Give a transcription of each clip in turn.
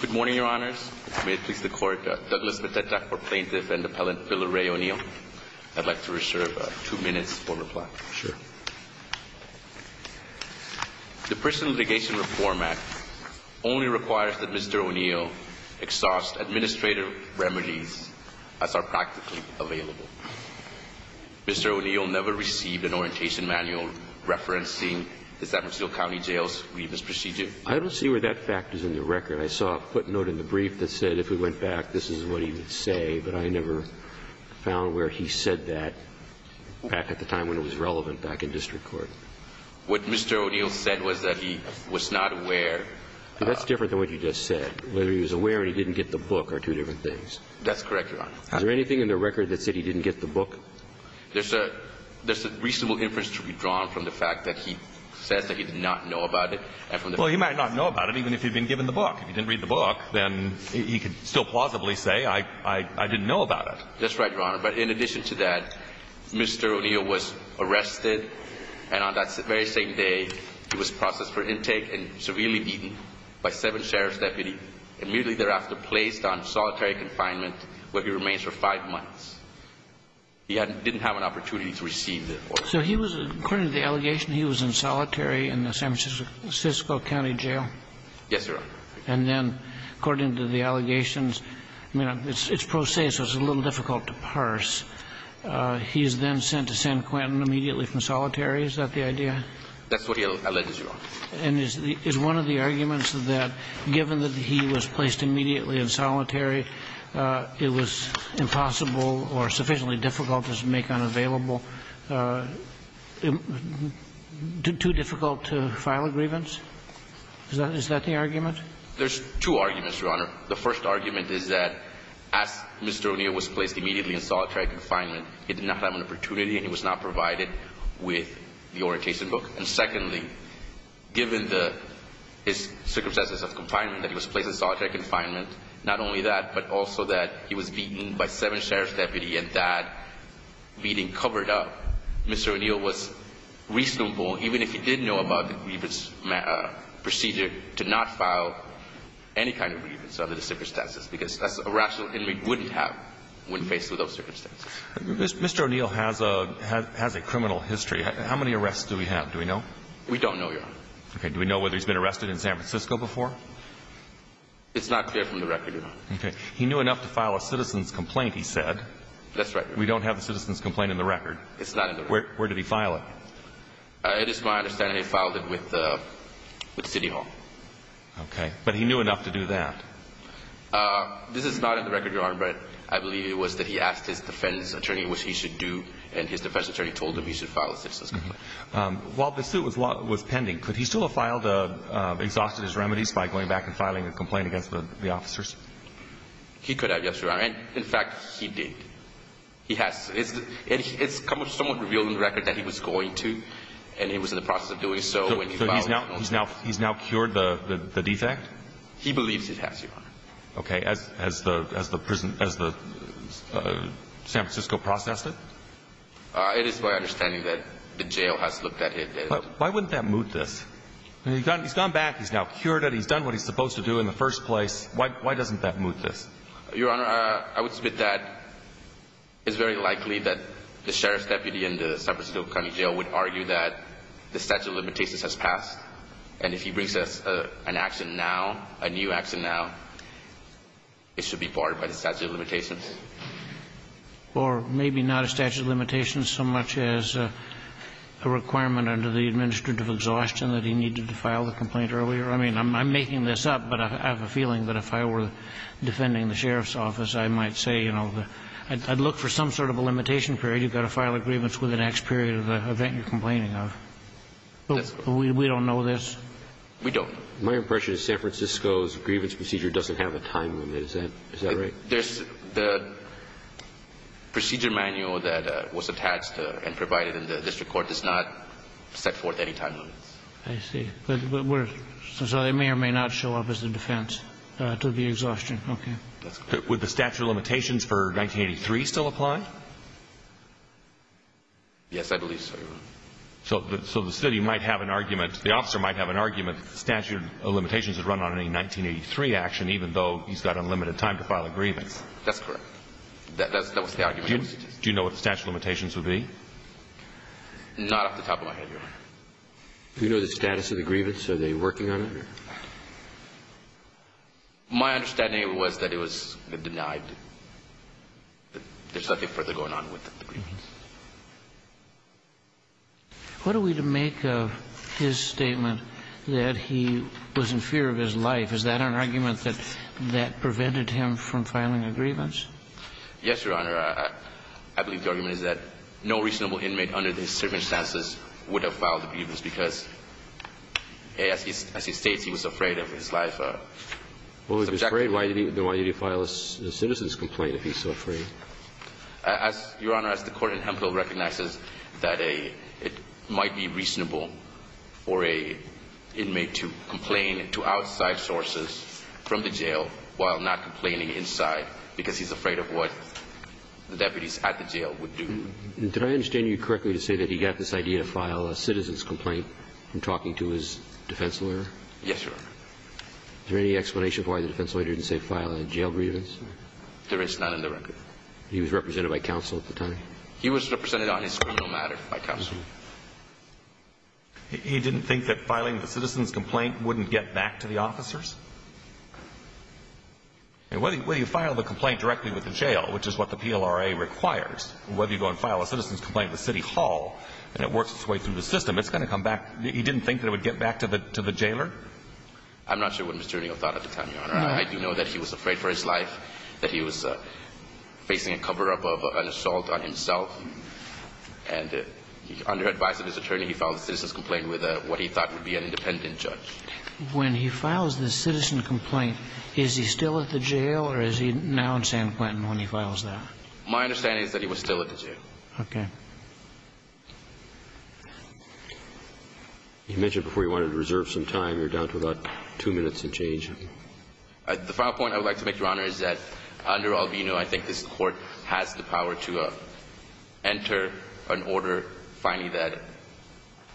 Good morning, Your Honors. May it please the Court, Douglas Beteta for Plaintiff and Appellant Bill O'Reilly O'Neill. I'd like to reserve two minutes for reply. Sure. The Personal Litigation Reform Act only requires that Mr. O'Neill exhaust administrative remedies as are practically available. Mr. O'Neill never received an orientation manual referencing the San Francisco County Jail's grievance procedure. I don't see where that fact is in the record. I saw a footnote in the brief that said if we went back, this is what he would say, but I never found where he said that back at the time when it was relevant back in district court. What Mr. O'Neill said was that he was not aware. That's different than what you just said. Whether he was aware or he didn't get the book are two different things. That's correct, Your Honor. Is there anything in the record that said he didn't get the book? There's a reasonable inference to be drawn from the fact that he says that he did not know about it. Well, he might not know about it even if he'd been given the book. If he didn't read the book, then he could still plausibly say, I didn't know about it. That's right, Your Honor. But in addition to that, Mr. O'Neill was arrested, and on that very same day, he was processed for intake and severely beaten by seven sheriff's deputies and immediately thereafter placed on solitary confinement where he remains for five months. He didn't have an opportunity to receive the order. So he was, according to the allegation, he was in solitary in the San Francisco County Jail? Yes, Your Honor. And then, according to the allegations, I mean, it's pro se, so it's a little difficult to parse. He is then sent to San Quentin immediately from solitary. Is that the idea? That's what he alleged, Your Honor. And is one of the arguments that, given that he was placed immediately in solitary, it was impossible or sufficiently difficult to make unavailable, too difficult to file a grievance? Is that the argument? There's two arguments, Your Honor. The first argument is that as Mr. O'Neill was placed immediately in solitary confinement, he did not have an opportunity and he was not provided with the orientation book. And secondly, given the circumstances of confinement, that he was placed in solitary confinement, not only that, but also that he was beaten by seven sheriff's deputies and that beating covered up, Mr. O'Neill was reasonable, even if he did know about the grievance procedure, to not file any kind of grievance under the circumstances because that's a rational enemy we wouldn't have when faced with those circumstances. Mr. O'Neill has a criminal history. How many arrests do we have? Do we know? We don't know, Your Honor. Okay. Do we know whether he's been arrested in San Francisco before? It's not clear from the record, Your Honor. Okay. He knew enough to file a citizen's complaint, he said. That's right, Your Honor. We don't have a citizen's complaint in the record. It's not in the record. Where did he file it? It is my understanding he filed it with City Hall. Okay. But he knew enough to do that. This is not in the record, Your Honor, but I believe it was that he asked his defense attorney what he should do, and his defense attorney told him he should file a citizen's complaint. While the suit was pending, could he still have filed, exhausted his remedies by going back and filing a complaint against the officers? He could have, Yes, Your Honor. And, in fact, he did. He has. It's somewhat revealed in the record that he was going to, and he was in the process of doing so. So he's now cured the defect? He believes he has, Your Honor. Okay. As the prison, as the San Francisco processed it? It is my understanding that the jail has looked at it. Why wouldn't that moot this? He's gone back. He's now cured it. He's done what he's supposed to do in the first place. Why doesn't that moot this? Your Honor, I would submit that it's very likely that the sheriff's deputy in the San Francisco County Jail would argue that the statute of limitations has passed, and if he brings us an action now, a new action now, it should be barred by the statute of limitations. Or maybe not a statute of limitations so much as a requirement under the administrative exhaustion that he needed to file the complaint earlier. I mean, I'm making this up, but I have a feeling that if I were defending the sheriff's office, I might say, you know, I'd look for some sort of a limitation period. You've got to file a grievance within the next period of the event you're complaining of. But we don't know this? We don't. My impression is San Francisco's grievance procedure doesn't have a time limit. Is that right? The procedure manual that was attached and provided in the district court does not set forth any time limits. I see. So it may or may not show up as a defense to the exhaustion. Okay. Would the statute of limitations for 1983 still apply? Yes, I believe so, Your Honor. So the city might have an argument, the officer might have an argument that the statute of limitations would be? Not off the top of my head, Your Honor. Do you know the status of the grievance? Are they working on it? My understanding was that it was denied, that there's nothing further going on with the grievance. What are we to make of his statement that he was in fear of his life? Is that an argument that prevented him from filing a grievance? Yes, Your Honor. I believe the argument is that no reasonable inmate under these circumstances would have filed a grievance because, as he states, he was afraid of his life. Well, if he's afraid, then why did he file a citizen's complaint if he's so afraid? Your Honor, as the court in Hemphill recognizes that it might be reasonable for an inmate to complain to outside sources from the jail while not complaining inside because he's afraid of what the deputies at the jail would do. Did I understand you correctly to say that he got this idea to file a citizen's complaint from talking to his defense lawyer? Yes, Your Honor. Is there any explanation for why the defense lawyer didn't say file a jail grievance? There is none in the record. He was represented by counsel at the time? He was represented on his criminal matter by counsel. He didn't think that filing the citizen's complaint wouldn't get back to the officers? Whether you file the complaint directly with the jail, which is what the PLRA requires, whether you go and file a citizen's complaint with City Hall and it works its way through the system, it's going to come back. He didn't think that it would get back to the jailer? I'm not sure what Mr. O'Neill thought at the time, Your Honor. I do know that he was afraid for his life, that he was facing a cover-up of an assault on himself, and under advice of his attorney, he filed a citizen's complaint with what he thought would be an independent judge. When he files the citizen complaint, is he still at the jail or is he now in San Quentin when he files that? My understanding is that he was still at the jail. Okay. You mentioned before you wanted to reserve some time. You're down to about two minutes and change. The final point I would like to make, Your Honor, is that under Albino, I think that his court has the power to enter an order finding that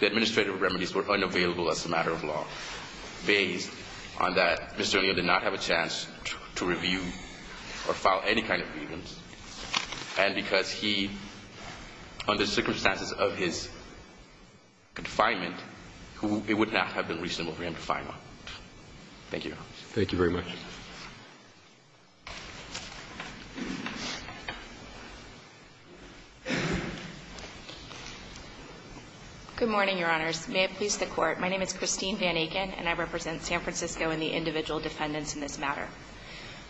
the administrative remedies were unavailable as a matter of law, based on that Mr. O'Neill did not have a chance to review or file any kind of grievance, and because he, under circumstances of his confinement, it would not have been reasonable for him to file one. Thank you. Thank you very much. Good morning, Your Honors. May it please the Court. My name is Christine Van Aken and I represent San Francisco and the individual defendants in this matter.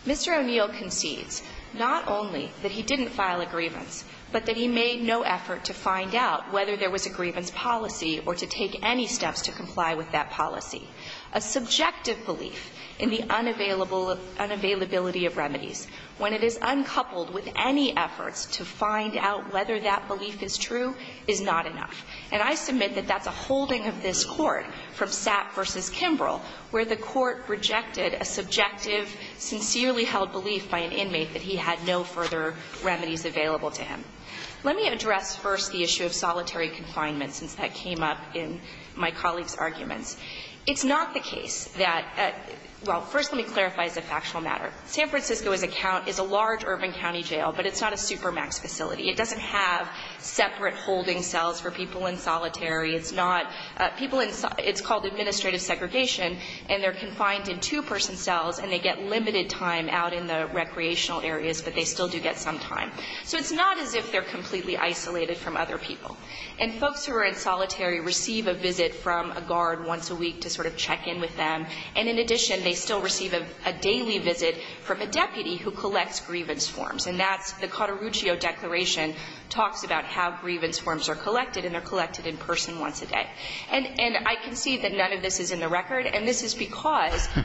Mr. O'Neill concedes not only that he didn't file a grievance, but that he made no effort to find out whether there was a grievance policy or to take any steps to comply with that policy. A subjective belief in the unavailability of remedies, when it is uncoupled with any efforts to find out whether that belief is true, is not enough. And I submit that that's a holding of this Court from Sapp v. Kimbrell, where the Court rejected a subjective, sincerely held belief by an inmate that he had no further remedies available to him. Let me address first the issue of solitary confinement, since that came up in my colleague's arguments. It's not the case that – well, first let me clarify as a factual matter. San Francisco, as a count, is a large urban county jail, but it's not a supermax facility. It doesn't have separate holding cells for people in solitary. It's not – people in – it's called administrative segregation, and they're confined in two-person cells and they get limited time out in the recreational areas, but they still do get some time. So it's not as if they're completely isolated from other people. And folks who are in solitary receive a visit from a guard once a week to sort of check in with them. And in addition, they still receive a daily visit from a deputy who collects grievance forms. And that's – the Cotteruccio Declaration talks about how grievance forms are collected, and they're collected in person once a day. And I can see that none of this is in the record, and this is because –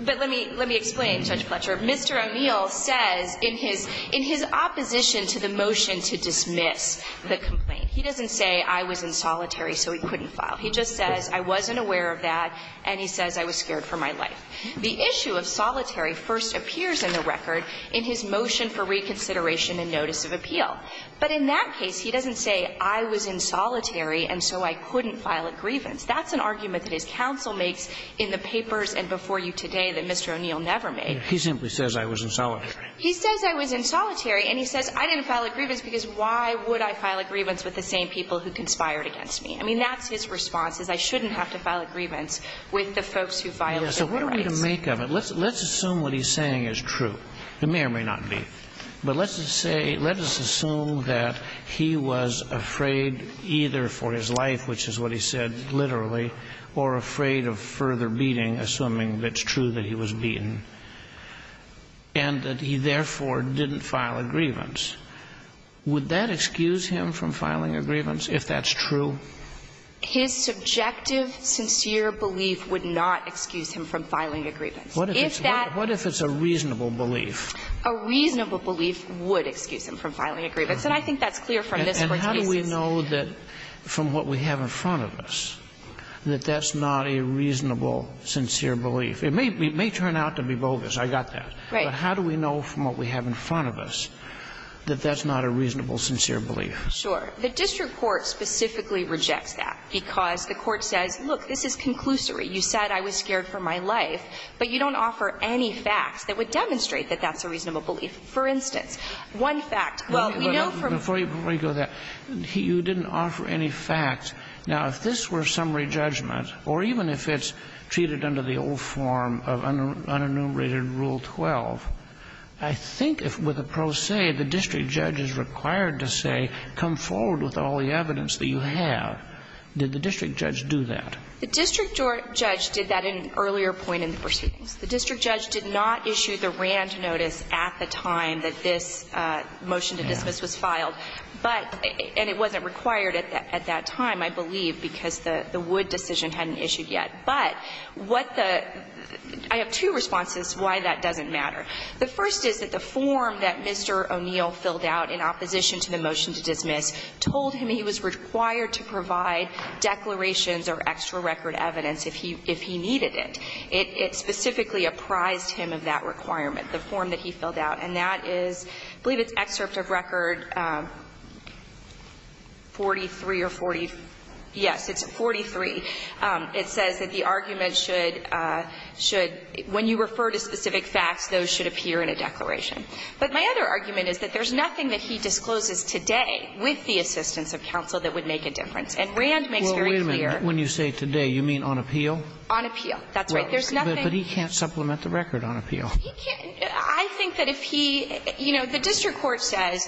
but let me – let me explain, Judge Fletcher. Mr. O'Neill says in his – in his opposition to the motion to dismiss the complaint – he doesn't say, I was in solitary, so he couldn't file. He just says, I wasn't aware of that, and he says, I was scared for my life. The issue of solitary first appears in the record in his motion for reconsideration and notice of appeal. But in that case, he doesn't say, I was in solitary, and so I couldn't file a grievance. That's an argument that his counsel makes in the papers and before you today that Mr. O'Neill never made. He simply says, I was in solitary. He says, I was in solitary, and he says, I didn't file a grievance because why would I file a grievance with the same people who conspired against me? I mean, that's his response, is I shouldn't have to file a grievance with the folks who violated the rights. So what are we to make of it? Let's assume what he's saying is true. It may or may not be. But let's say – let us assume that he was afraid either for his life, which is what he said literally, or afraid of further beating, assuming that's true that he was beaten, and that he therefore didn't file a grievance. Would that excuse him from filing a grievance if that's true? His subjective, sincere belief would not excuse him from filing a grievance. If that – What if it's a reasonable belief? A reasonable belief would excuse him from filing a grievance, and I think that's clear from this Court's cases. And how do we know that, from what we have in front of us, that that's not a reasonable, sincere belief? It may turn out to be bogus. I got that. Right. But how do we know from what we have in front of us that that's not a reasonable, sincere belief? Sure. The district court specifically rejects that because the court says, look, this is conclusory. You said I was scared for my life, but you don't offer any facts that would demonstrate that that's a reasonable belief. For instance, one fact. Well, we know from – Before you go there, you didn't offer any facts. Now, if this were summary judgment, or even if it's treated under the old form of unenumerated Rule 12, I think if, with pro se, the district judge is required to say, come forward with all the evidence that you have, did the district judge do that? The district judge did that at an earlier point in the proceedings. The district judge did not issue the Rand notice at the time that this motion to dismiss was filed, but – and it wasn't required at that time, I believe, because the Wood decision hadn't issued yet. But what the – I have two responses why that doesn't matter. The first is that the form that Mr. O'Neill filled out in opposition to the motion to dismiss told him he was required to provide declarations or extra record evidence if he – if he needed it. It specifically apprised him of that requirement, the form that he filled out. And that is – I believe it's excerpt of Record 43 or 40 – yes, it's 43. It says that the argument should – should – when you refer to specific facts, those should appear in a declaration. But my other argument is that there's nothing that he discloses today with the assistance of counsel that would make a difference. And Rand makes very clear – Well, wait a minute. When you say today, you mean on appeal? On appeal. That's right. There's nothing – But he can't supplement the record on appeal. He can't – I think that if he – you know, the district court says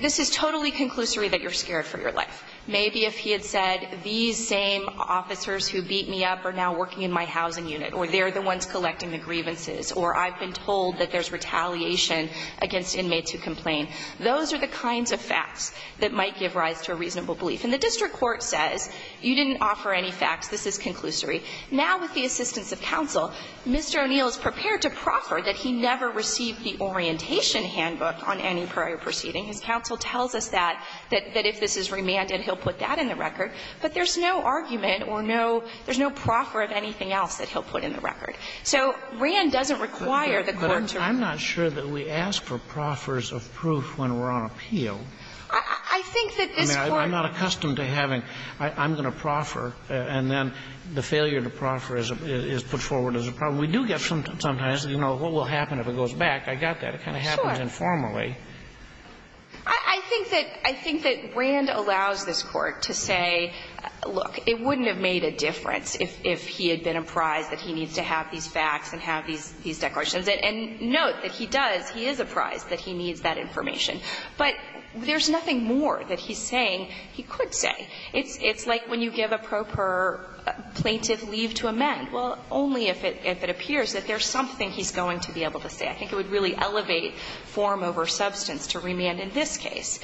this is totally conclusory that you're scared for your life. Maybe if he had said these same officers who beat me up are now working in my housing unit, or they're the ones collecting the grievances, or I've been told that there's retaliation against inmates who complain, those are the kinds of facts that might give rise to a reasonable belief. And the district court says you didn't offer any facts, this is conclusory. Now, with the assistance of counsel, Mr. O'Neill is prepared to proffer that he never received the orientation handbook on any prior proceeding. His counsel tells us that if this is remanded, he'll put that in the record. But there's no argument or no – there's no proffer of anything else that he'll put in the record. So Rand doesn't require the court to – But I'm not sure that we ask for proffers of proof when we're on appeal. I think that this Court – I mean, I'm not accustomed to having, I'm going to proffer, and then the failure to proffer is put forward as a problem. We do get sometimes, you know, what will happen if it goes back. I got that. It kind of happens informally. I think that – I think that Rand allows this Court to say, look, it wouldn't have made a difference if he had been apprised that he needs to have these facts and have these declarations. And note that he does, he is apprised that he needs that information. But there's nothing more that he's saying he could say. It's like when you give a proper plaintiff leave to amend. Well, only if it appears that there's something he's going to be able to say. I think it would really elevate form over substance to remand in this case.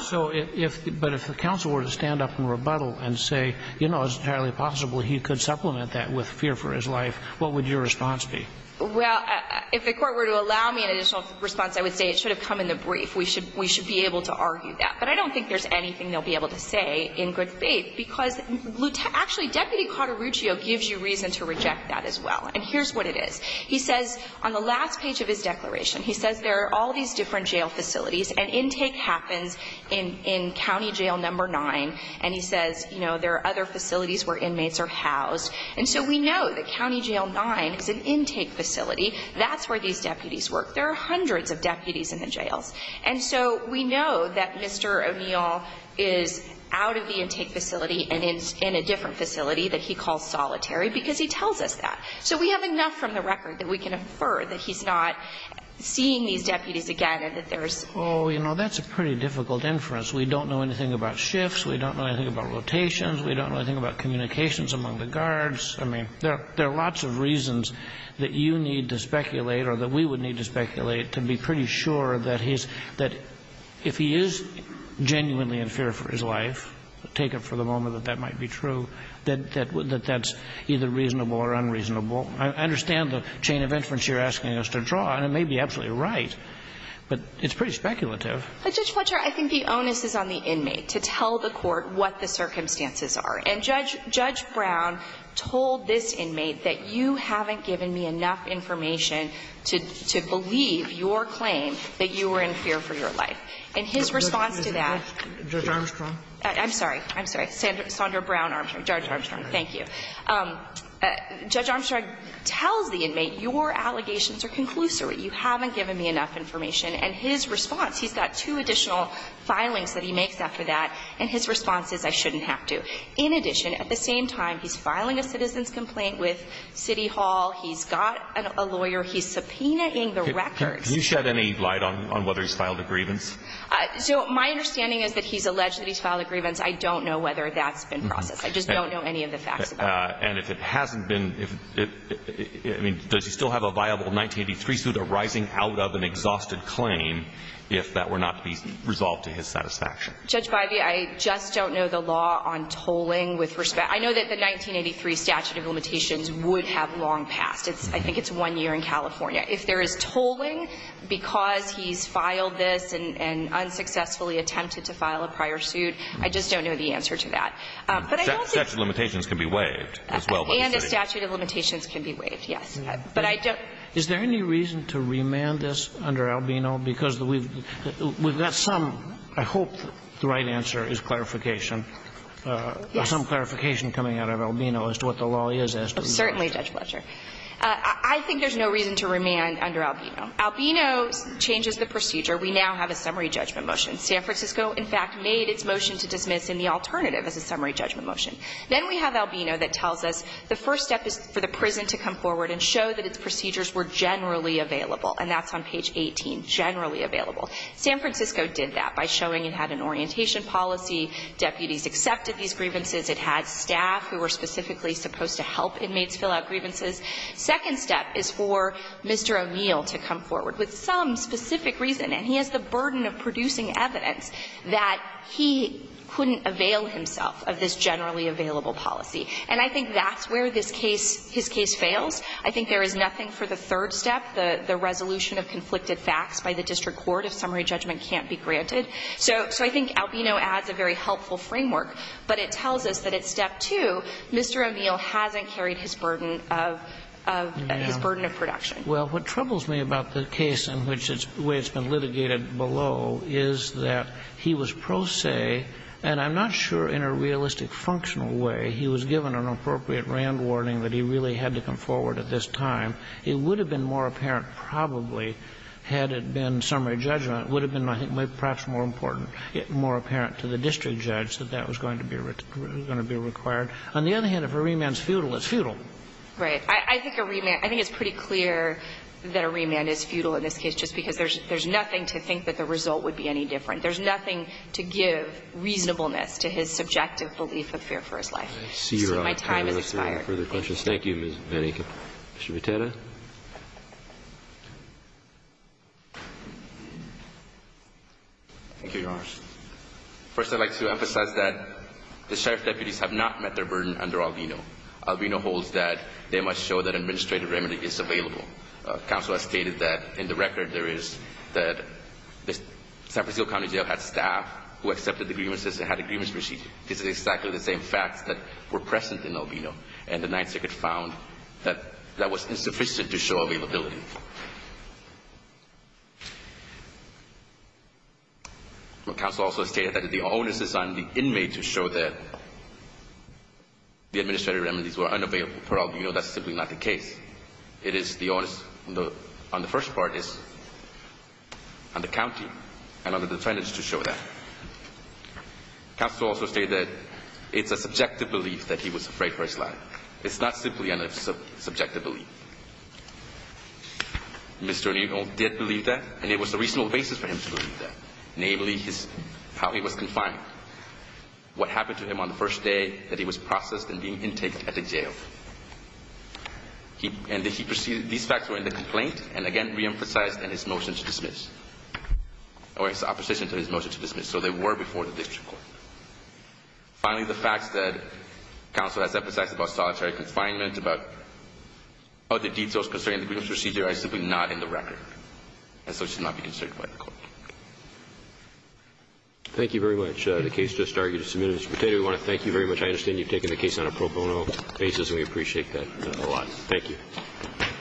So if – but if the counsel were to stand up and rebuttal and say, you know, it's entirely possible he could supplement that with fear for his life, what would your response be? Well, if the Court were to allow me an additional response, I would say it should have come in the brief. We should be able to argue that. But I don't think there's anything they'll be able to say in good faith, because actually, Deputy Cotaruccio gives you reason to reject that as well. And here's what it is. He says on the last page of his declaration, he says there are all these different jail facilities and intake happens in County Jail No. 9. And he says, you know, there are other facilities where inmates are housed. And so we know that County Jail 9 is an intake facility. That's where these deputies work. There are hundreds of deputies in the jails. And so we know that Mr. O'Neill is out of the intake facility and in a different facility that he calls solitary because he tells us that. So we have enough from the record that we can infer that he's not seeing these deputies again and that there's not. Oh, you know, that's a pretty difficult inference. We don't know anything about shifts. We don't know anything about rotations. We don't know anything about communications among the guards. I mean, there are lots of reasons that you need to speculate or that we would need to speculate to be pretty sure that he's – that if he is genuinely in fear for his life, take it for the moment that that might be true, that that's either reasonable or unreasonable. I understand the chain of inference you're asking us to draw, and it may be absolutely right, but it's pretty speculative. But, Judge Fletcher, I think the onus is on the inmate to tell the court what the circumstances are. And Judge Brown told this inmate that you haven't given me enough information to believe your claim that you were in fear for your life. And his response to that – Judge Armstrong? I'm sorry. I'm sorry. Sandra Brown, Judge Armstrong. Thank you. Judge Armstrong tells the inmate, your allegations are conclusory. You haven't given me enough information. And his response – he's got two additional filings that he makes after that, and his response is, I shouldn't have to. In addition, at the same time, he's filing a citizen's complaint with City Hall. He's got a lawyer. He's subpoenaing the records. Do you shed any light on whether he's filed a grievance? So my understanding is that he's alleged that he's filed a grievance. I don't know whether that's been processed. I just don't know any of the facts about it. And if it hasn't been – I mean, does he still have a viable 1983 suit arising out of an exhausted claim if that were not to be resolved to his satisfaction? Judge Bivey, I just don't know the law on tolling with respect – I know that the 1983 statute of limitations would have long passed. I think it's one year in California. If there is tolling because he's filed this and unsuccessfully attempted to file a prior suit, I just don't know the answer to that. Statute of limitations can be waived as well. And the statute of limitations can be waived, yes. But I don't – Is there any reason to remand this under Albino? Because we've got some – I hope the right answer is clarification. Yes. Some clarification coming out of Albino as to what the law is as to remand. Certainly, Judge Fletcher. I think there's no reason to remand under Albino. Albino changes the procedure. We now have a summary judgment motion. San Francisco, in fact, made its motion to dismiss in the alternative as a summary judgment motion. Then we have Albino that tells us the first step is for the prison to come forward and show that its procedures were generally available. And that's on page 18, generally available. San Francisco did that by showing it had an orientation policy, deputies accepted these grievances, it had staff who were specifically supposed to help inmates fill out grievances. Second step is for Mr. O'Neill to come forward with some specific reason, and he has the burden of producing evidence that he couldn't avail himself of this generally available policy. And I think that's where this case – his case fails. I think there is nothing for the third step, the resolution of conflicted facts by the district court if summary judgment can't be granted. So I think Albino adds a very helpful framework, but it tells us that at step two, Mr. O'Neill hasn't carried his burden of – his burden of production. Well, what troubles me about the case in which it's – the way it's been litigated below is that he was pro se, and I'm not sure in a realistic functional way he was given an appropriate Rand warning that he really had to come forward at this time. It would have been more apparent probably had it been summary judgment. It would have been, I think, perhaps more important, more apparent to the district judge that that was going to be required. On the other hand, if a remand is futile, it's futile. Right. I think a remand – I think it's pretty clear that a remand is futile in this case just because there's nothing to think that the result would be any different. There's nothing to give reasonableness to his subjective belief of fear for his life. So my time has expired. I see your time has expired. Further questions? Thank you, Ms. Van Aken. Mr. Vitera. Thank you, Your Honor. First, I'd like to emphasize that the sheriff's deputies have not met their burden under Albino. Albino holds that they must show that an administrative remedy is available. Counsel has stated that in the record there is that the San Francisco County Jail had staff who accepted the grievances and had agreements received. This is exactly the same facts that were present in Albino. And the Ninth Circuit found that that was insufficient to show availability. Counsel also stated that the onus is on the inmate to show that the administrative remedies were unavailable for Albino. That's simply not the case. It is the onus on the first parties, on the county, and on the defendants to show that. Counsel also stated that it's a subjective belief that he was afraid for his life. It's not simply a subjective belief. Mr. O'Neill did believe that, and it was a reasonable basis for him to believe that, namely how he was confined, what happened to him on the first day, that he was processed and being intaked at a jail. And he preceded these facts were in the complaint and again reemphasized in his motion to dismiss, or his opposition to his motion to dismiss. So they were before the district court. Finally, the facts that counsel has emphasized about solitary confinement, about other details concerning the grievance procedure, are simply not in the record. And so it should not be concerned by the court. Roberts. Thank you very much. The case just argued is submitted. Mr. Pateta, we want to thank you very much. I understand you've taken the case on a pro bono basis, and we appreciate that. A lot. Thank you.